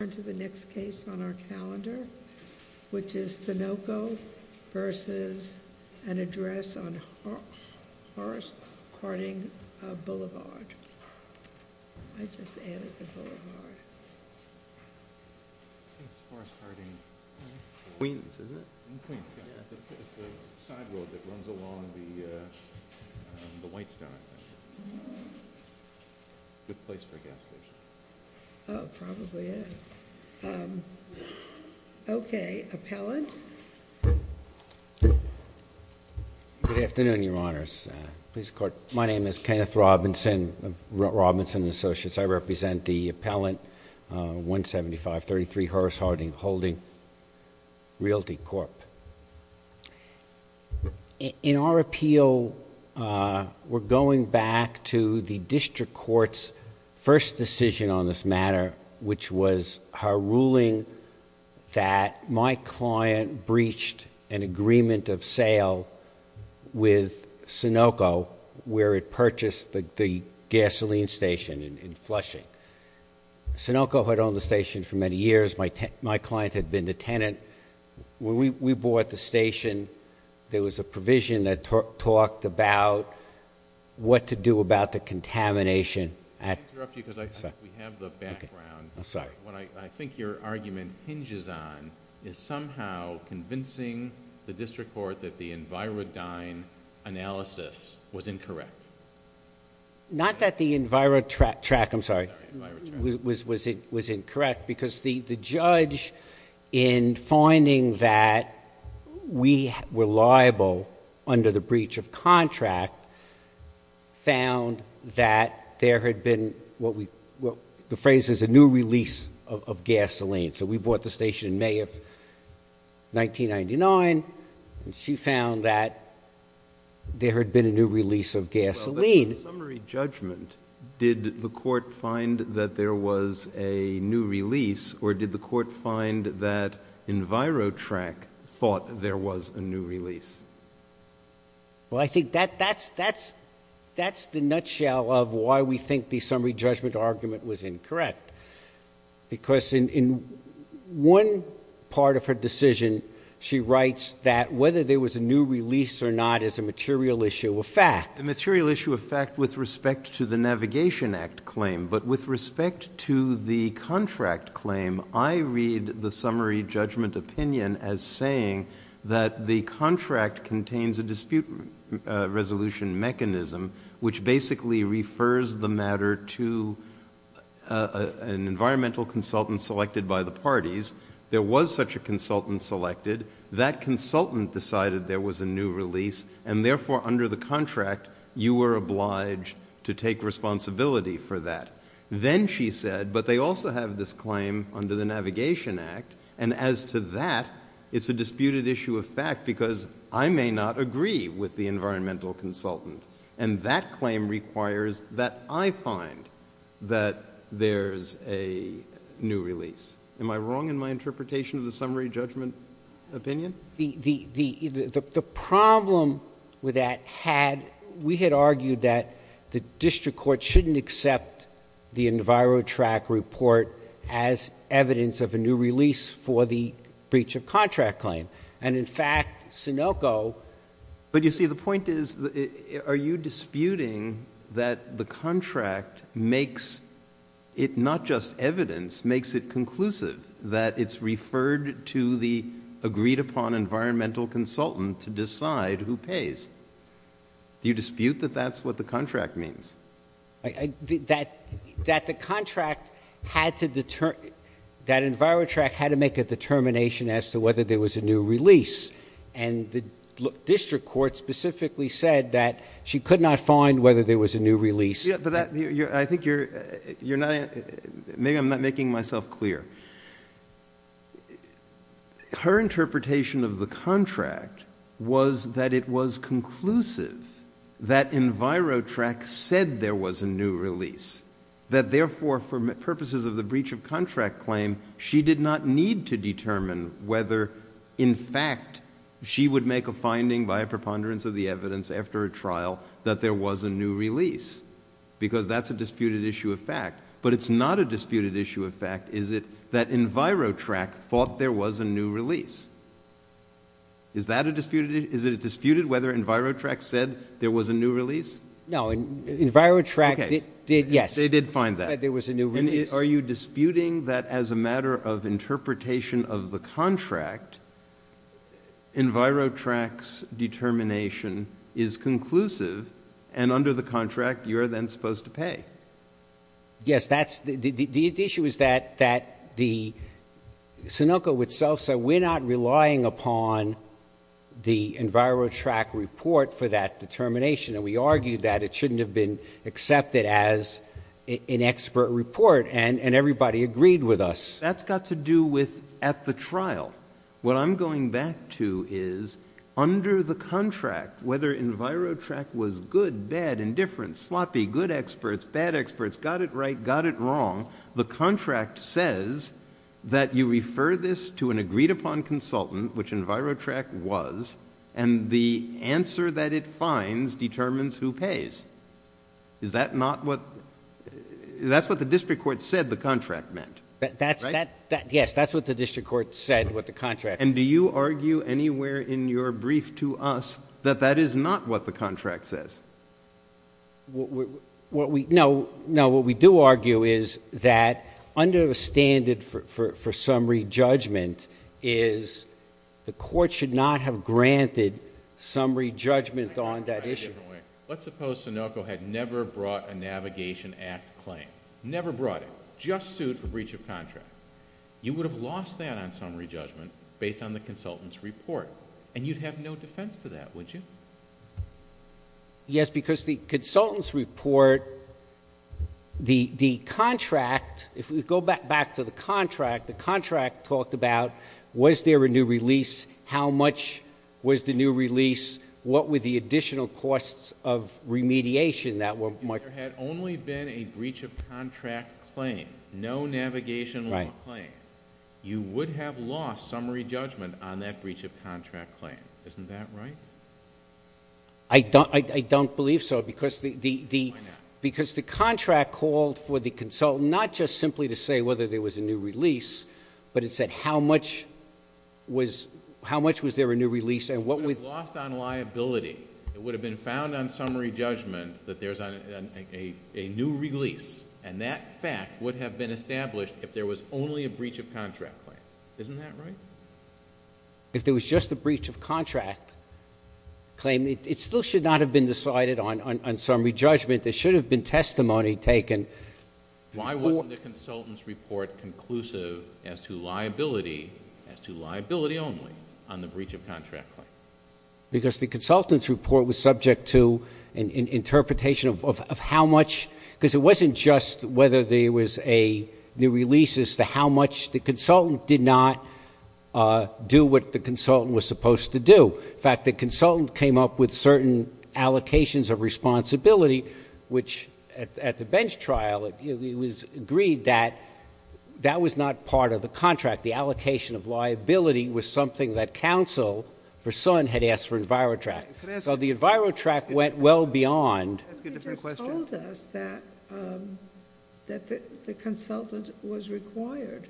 Next case on our calendar, which is Sunoco v. an address on Horace Harding Blvd. Okay, appellant. Good afternoon, Your Honors. My name is Kenneth Robinson of Robinson & Associates. I represent the Appellant 175-33 Horace Harding holding Realty Corp. In our appeal, we're going back to the District Court's first decision on this matter, which was her ruling that my client breached an agreement of sale with Sunoco, where it purchased the gasoline station in Flushing. Sunoco had owned the station for many years. My client had been the tenant. We bought the station. There was a provision that talked about what to do about the contamination. Let me interrupt you because we have the background. I'm sorry. What I think your argument hinges on is somehow convincing the District Court that the Envirodyne analysis was incorrect. Not that the Envirotrack, I'm sorry, was incorrect because the judge, in finding that we were liable under the breach of contract, found that there had been what the phrase is a new release of gasoline. So we bought the station in May of 1999, and she found that there had been a new release of gasoline. Well, in summary judgment, did the court find that there was a new release or did the court find that Envirotrack thought there was a new release? Well, I think that's the nutshell of why we think the summary judgment argument was incorrect because in one part of her decision, she writes that whether there was a new release or not is a material issue of fact. A material issue of fact with respect to the Navigation Act claim, but with respect to the contract claim, I read the summary judgment opinion as saying that the contract contains a dispute resolution mechanism which basically refers the matter to an environmental consultant selected by the parties. There was such a consultant selected. That consultant decided there was a new release, and therefore under the contract, you were obliged to take responsibility for that. Then she said, but they also have this claim under the Navigation Act, and as to that, it's a disputed issue of fact because I may not agree with the environmental consultant, and that claim requires that I find that there's a new release. Am I wrong in my interpretation of the summary judgment opinion? The problem with that had, we had argued that the district court shouldn't accept the EnviroTrack report as evidence of a new release for the breach of contract claim, and in fact, Sunoco. But you see, the point is, are you disputing that the contract makes it not just evidence, makes it conclusive that it's referred to the agreed upon environmental consultant to decide who pays? Do you dispute that that's what the contract means? That the contract had to determine, that EnviroTrack had to make a determination as to whether there was a new release, and the district court specifically said that she could not find whether there was a new release. I think you're not, maybe I'm not making myself clear. Her interpretation of the contract was that it was conclusive that EnviroTrack said there was a new release, that therefore, for purposes of the breach of contract claim, she did not need to determine whether, in fact, she would make a finding by a preponderance of the evidence after a trial that there was a new release, because that's a disputed issue of fact. But it's not a disputed issue of fact, is it, that EnviroTrack thought there was a new release. Is that a disputed issue? Is it disputed whether EnviroTrack said there was a new release? No, EnviroTrack did, yes. They did find that. That there was a new release. And are you disputing that as a matter of interpretation of the contract, EnviroTrack's determination is conclusive, and under the contract, you are then supposed to pay? Yes, that's, the issue is that the Sunoco itself said, we're not relying upon the EnviroTrack report for that determination, and we argued that it shouldn't have been accepted as an expert report, and everybody agreed with us. That's got to do with at the trial. What I'm going back to is, under the contract, whether EnviroTrack was good, bad, indifferent, sloppy, good experts, bad experts, got it right, got it wrong, the contract says that you refer this to an agreed-upon consultant, which EnviroTrack was, and the answer that it finds determines who pays. Is that not what, that's what the district court said the contract meant, right? Yes, that's what the district court said what the contract meant. And do you argue anywhere in your brief to us that that is not what the contract says? No, what we do argue is that under the standard for summary judgment is, the court should not have granted summary judgment on that issue. Let's suppose Sunoco had never brought a Navigation Act claim, never brought it, just sued for breach of contract. You would have lost that on summary judgment based on the consultant's report, and you'd have no defense to that, would you? Yes, because the consultant's report, the contract, if we go back to the contract, the contract talked about was there a new release, how much was the new release, what were the additional costs of remediation that were marked. If there had only been a breach of contract claim, no Navigation Law claim, you would have lost summary judgment on that breach of contract claim. Isn't that right? I don't believe so because the contract called for the consultant, not just simply to say whether there was a new release, but it said how much was there a new release. You would have lost on liability. It would have been found on summary judgment that there's a new release, and that fact would have been established if there was only a breach of contract claim. Isn't that right? If there was just a breach of contract claim, it still should not have been decided on summary judgment. There should have been testimony taken. Why wasn't the consultant's report conclusive as to liability, as to liability only on the breach of contract claim? Because the consultant's report was subject to an interpretation of how much, because it wasn't just whether there was a new release as to how much the consultant did not do what the consultant was supposed to do. In fact, the consultant came up with certain allocations of responsibility, which at the bench trial it was agreed that that was not part of the contract. The allocation of liability was something that counsel for Sun had asked for EnviroTrack. So the EnviroTrack went well beyond. You just told us that the consultant was required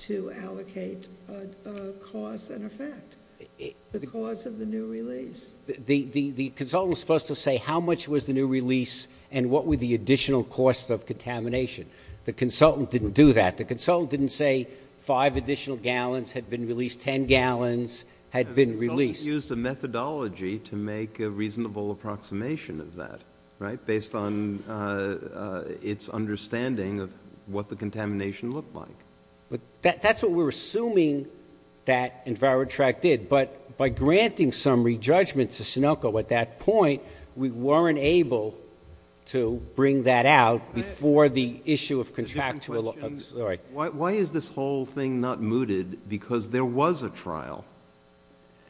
to allocate a cause and effect, the cause of the new release. The consultant was supposed to say how much was the new release and what were the additional costs of contamination. The consultant didn't do that. The consultant didn't say five additional gallons had been released, 10 gallons had been released. They used a methodology to make a reasonable approximation of that, right, based on its understanding of what the contamination looked like. But that's what we're assuming that EnviroTrack did. But by granting some re-judgment to Sunilco at that point, we weren't able to bring that out before the issue of contractuality. Why is this whole thing not mooted? Because there was a trial,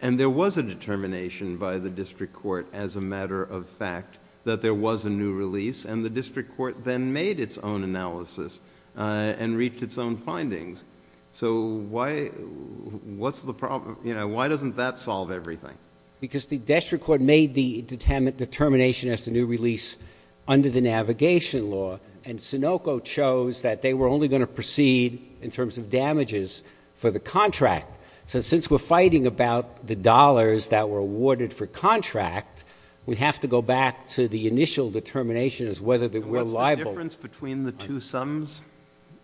and there was a determination by the district court as a matter of fact that there was a new release, and the district court then made its own analysis and reached its own findings. So why doesn't that solve everything? Because the district court made the determination as to new release under the navigation law, and Sunilco chose that they were only going to proceed in terms of damages for the contract. So since we're fighting about the dollars that were awarded for contract, we have to go back to the initial determination as whether they were liable. And what's the difference between the two sums?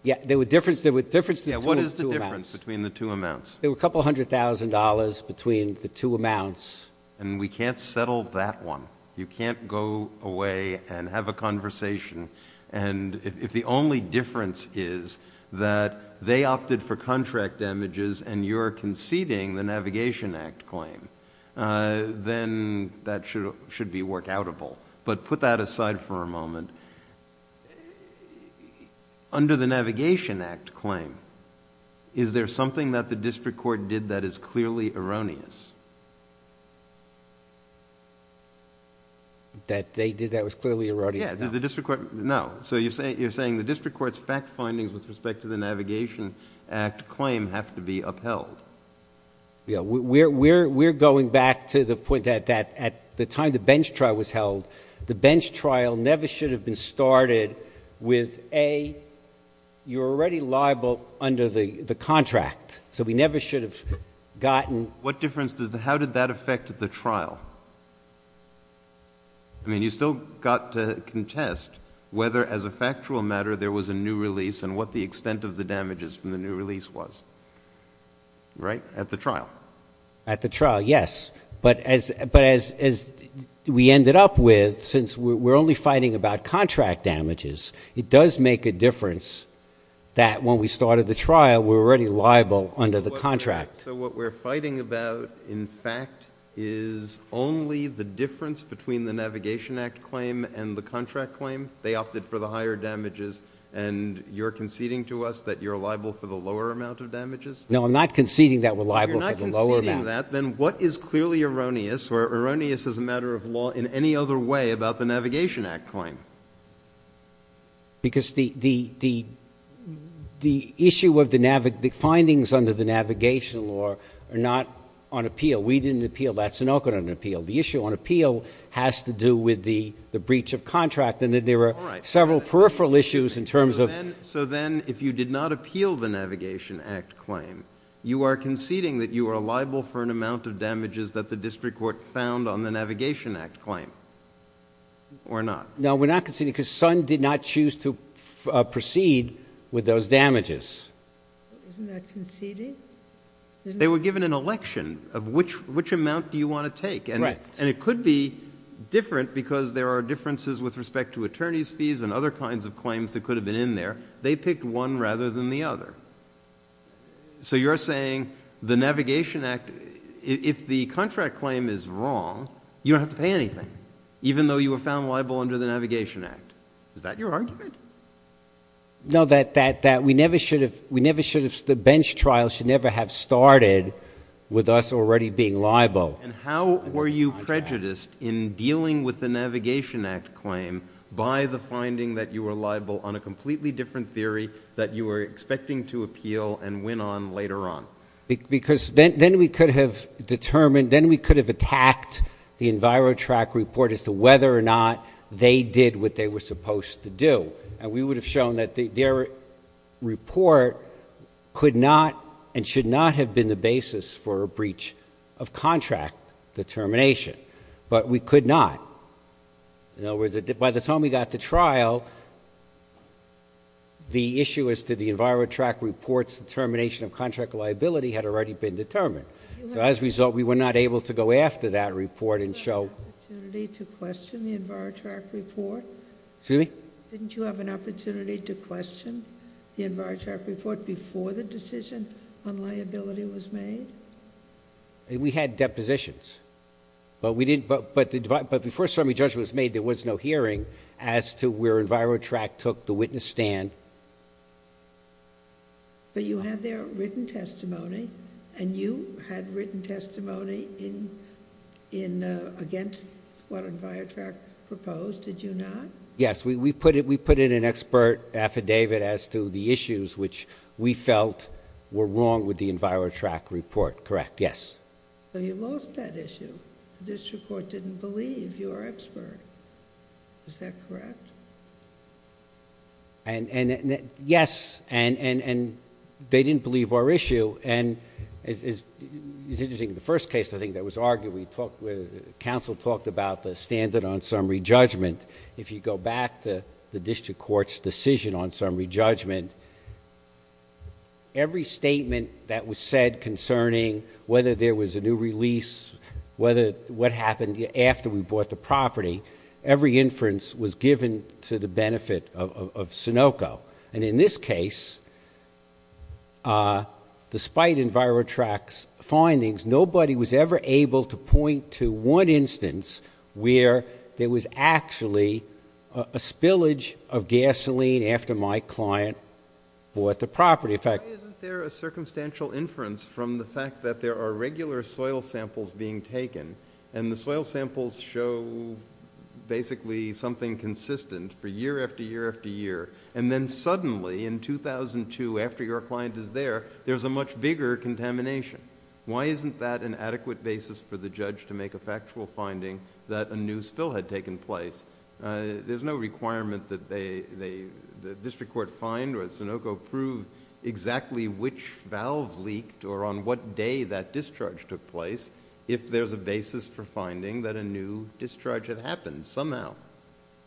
Yeah, there was a difference between the two amounts. Yeah, what is the difference between the two amounts? There were a couple hundred thousand dollars between the two amounts. And we can't settle that one. You can't go away and have a conversation. And if the only difference is that they opted for contract damages and you're conceding the Navigation Act claim, then that should be workoutable. But put that aside for a moment. Under the Navigation Act claim, is there something that the district court did that is clearly erroneous? That they did that was clearly erroneous? Yeah. No. So you're saying the district court's fact findings with respect to the Navigation Act claim have to be upheld? Yeah. We're going back to the point that at the time the bench trial was held, the bench trial never should have been started with, A, you're already liable under the contract. So we never should have gotten. What difference does the how did that affect the trial? I mean, you still got to contest whether, as a factual matter, there was a new release and what the extent of the damages from the new release was. Right? At the trial. At the trial, yes. But as we ended up with, since we're only fighting about contract damages, it does make a difference that when we started the trial, we were already liable under the contract. So what we're fighting about, in fact, is only the difference between the Navigation Act claim and the contract claim? They opted for the higher damages, and you're conceding to us that you're liable for the lower amount of damages? No, I'm not conceding that we're liable for the lower amount. You're not conceding that. Then what is clearly erroneous or erroneous as a matter of law in any other way about the Navigation Act claim? Because the issue of the findings under the Navigation Law are not on appeal. We didn't appeal that. Sanocco didn't appeal. The issue on appeal has to do with the breach of contract, and there were several peripheral issues in terms of the law. that the district court found on the Navigation Act claim or not? No, we're not conceding because Sun did not choose to proceed with those damages. Isn't that conceding? They were given an election of which amount do you want to take, and it could be different because there are differences with respect to attorney's fees and other kinds of claims that could have been in there. They picked one rather than the other. So you're saying the Navigation Act, if the contract claim is wrong, you don't have to pay anything, even though you were found liable under the Navigation Act. Is that your argument? No, that we never should have the bench trial should never have started with us already being liable. And how were you prejudiced in dealing with the Navigation Act claim by the finding that you were liable on a completely different theory that you were expecting to appeal and win on later on? Because then we could have determined, then we could have attacked the EnviroTrack report as to whether or not they did what they were supposed to do. And we would have shown that their report could not and should not have been the basis for a breach of contract determination. But we could not. In other words, by the time we got to trial, the issue as to the EnviroTrack report's determination of contract liability had already been determined. So as a result, we were not able to go after that report and show... Didn't you have an opportunity to question the EnviroTrack report? Excuse me? Didn't you have an opportunity to question the EnviroTrack report before the decision on liability was made? We had depositions. But before a summary judgment was made, there was no hearing as to where EnviroTrack took the witness stand. But you had there written testimony, and you had written testimony against what EnviroTrack proposed, did you not? Yes, we put in an expert affidavit as to the issues which we felt were wrong with the EnviroTrack report. Correct, yes. So you lost that issue. The district court didn't believe your expert. Is that correct? Yes, and they didn't believe our issue. And it's interesting, the first case I think that was argued, the counsel talked about the standard on summary judgment. If you go back to the district court's decision on summary judgment, every statement that was said concerning whether there was a new release, what happened after we bought the property, every inference was given to the benefit of Sunoco. And in this case, despite EnviroTrack's findings, nobody was ever able to point to one instance where there was actually a spillage of gasoline after my client bought the property. Why isn't there a circumstantial inference from the fact that there are regular soil samples being taken, and the soil samples show basically something consistent for year after year after year, and then suddenly in 2002, after your client is there, there's a much bigger contamination? Why isn't that an adequate basis for the judge to make a factual finding that a new spill had taken place? There's no requirement that the district court find or that Sunoco prove exactly which valve leaked or on what day that discharge took place if there's a basis for finding that a new discharge had happened somehow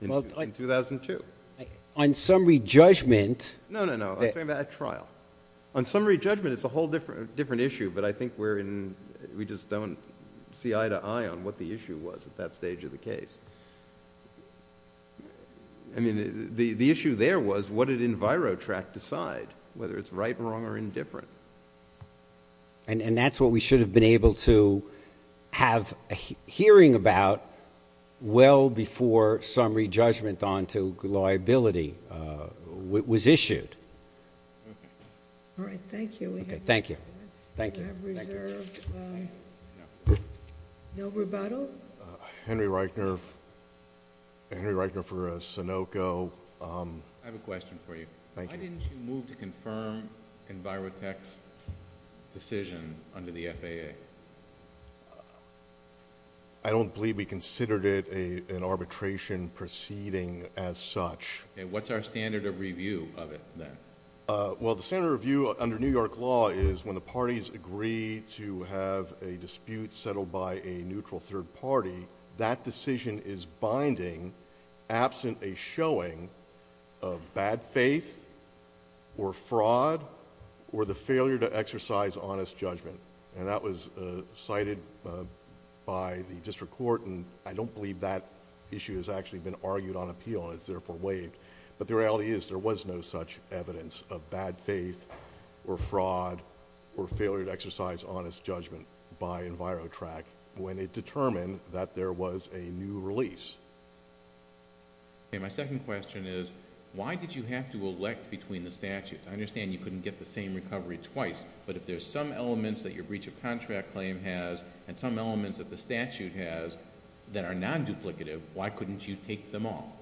in 2002. On summary judgment? No, no, no. I'm talking about a trial. On summary judgment, it's a whole different issue, but I think we just don't see eye to eye on what the issue was at that stage of the case. I mean, the issue there was what did EnviroTrack decide, whether it's right, wrong, or indifferent? And that's what we should have been able to have a hearing about well before summary judgment onto liability was issued. All right. Thank you. Thank you. No rebuttal? Henry Reitner for Sunoco. I have a question for you. Thank you. Why didn't you move to confirm EnviroTrack's decision under the FAA? I don't believe we considered it an arbitration proceeding as such. What's our standard of review of it then? Well, the standard of review under New York law is when the parties agree to have a dispute settled by a neutral third party, that decision is binding absent a showing of bad faith or fraud or the failure to exercise honest judgment. And that was cited by the district court, and I don't believe that issue has actually been argued on appeal and is therefore waived. But the reality is there was no such evidence of bad faith or fraud or failure to exercise honest judgment by EnviroTrack when it determined that there was a new release. My second question is why did you have to elect between the statutes? I understand you couldn't get the same recovery twice, but if there's some elements that your breach of contract claim has and some elements that the statute has that are non-duplicative, why couldn't you take them all?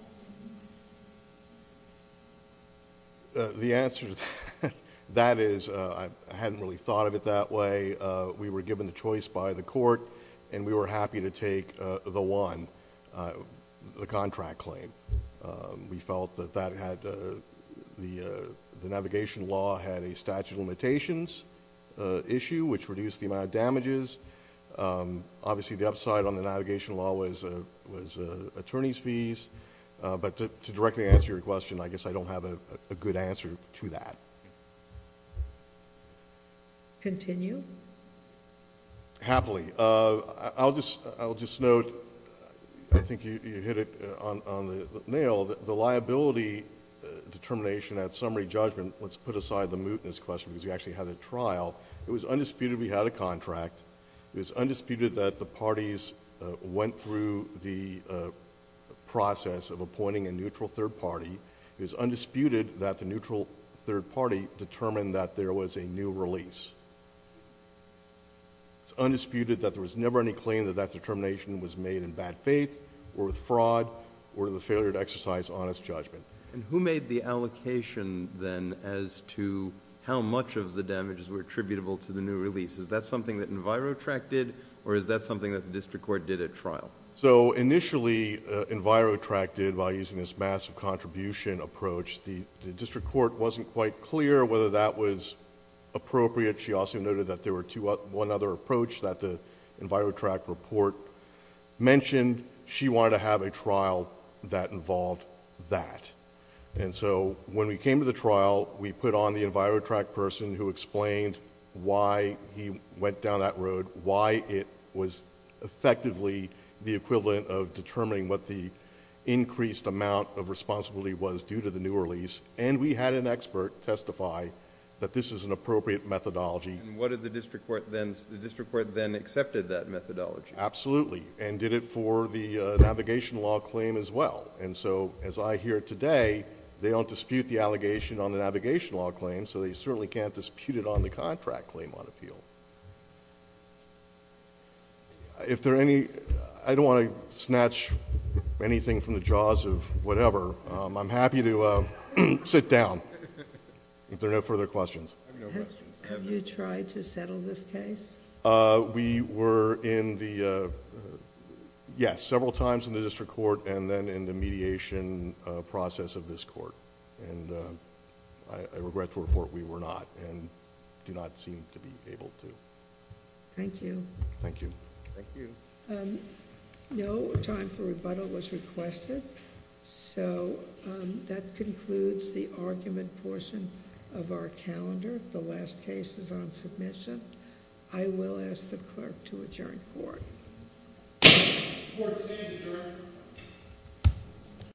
The answer to that is I hadn't really thought of it that way. We were given the choice by the court, and we were happy to take the one, the contract claim. We felt that the navigation law had a statute of limitations issue, which reduced the amount of damages. Obviously the upside on the navigation law was attorney's fees. But to directly answer your question, I guess I don't have a good answer to that. Continue. Happily. I'll just note, I think you hit it on the nail, the liability determination at summary judgment, let's put aside the mootness question because you actually had a trial. It was undisputed we had a contract. It was undisputed that the parties went through the process of appointing a neutral third party. It was undisputed that the neutral third party determined that there was a new release. It's undisputed that there was never any claim that that determination was made in bad faith, or with fraud, or the failure to exercise honest judgment. Who made the allocation then as to how much of the damages were attributable to the new release? Is that something that EnviroTrack did, or is that something that the district court did at trial? Initially, EnviroTrack did by using this massive contribution approach. The district court wasn't quite clear whether that was appropriate. She also noted that there was one other approach that the EnviroTrack report mentioned. She wanted to have a trial that involved that. When we came to the trial, we put on the EnviroTrack person who explained why he went down that road, why it was effectively the equivalent of determining what the increased amount of responsibility was due to the new release. We had an expert testify that this is an appropriate methodology. What did the district court then... the district court then accepted that methodology? Absolutely, and did it for the navigation law claim as well. As I hear today, they don't dispute the allegation on the navigation law claim, so they certainly can't dispute it on the contract claim on appeal. I don't want to snatch anything from the jaws of whatever. I'm happy to sit down if there are no further questions. Have you tried to settle this case? We were in the... yes, several times in the district court and then in the mediation process of this court. I regret to report we were not and do not seem to be able to. Thank you. Thank you. Thank you. No time for rebuttal was requested. That concludes the argument portion of our calendar. The last case is on submission. I will ask the clerk to adjourn court. Court is adjourned.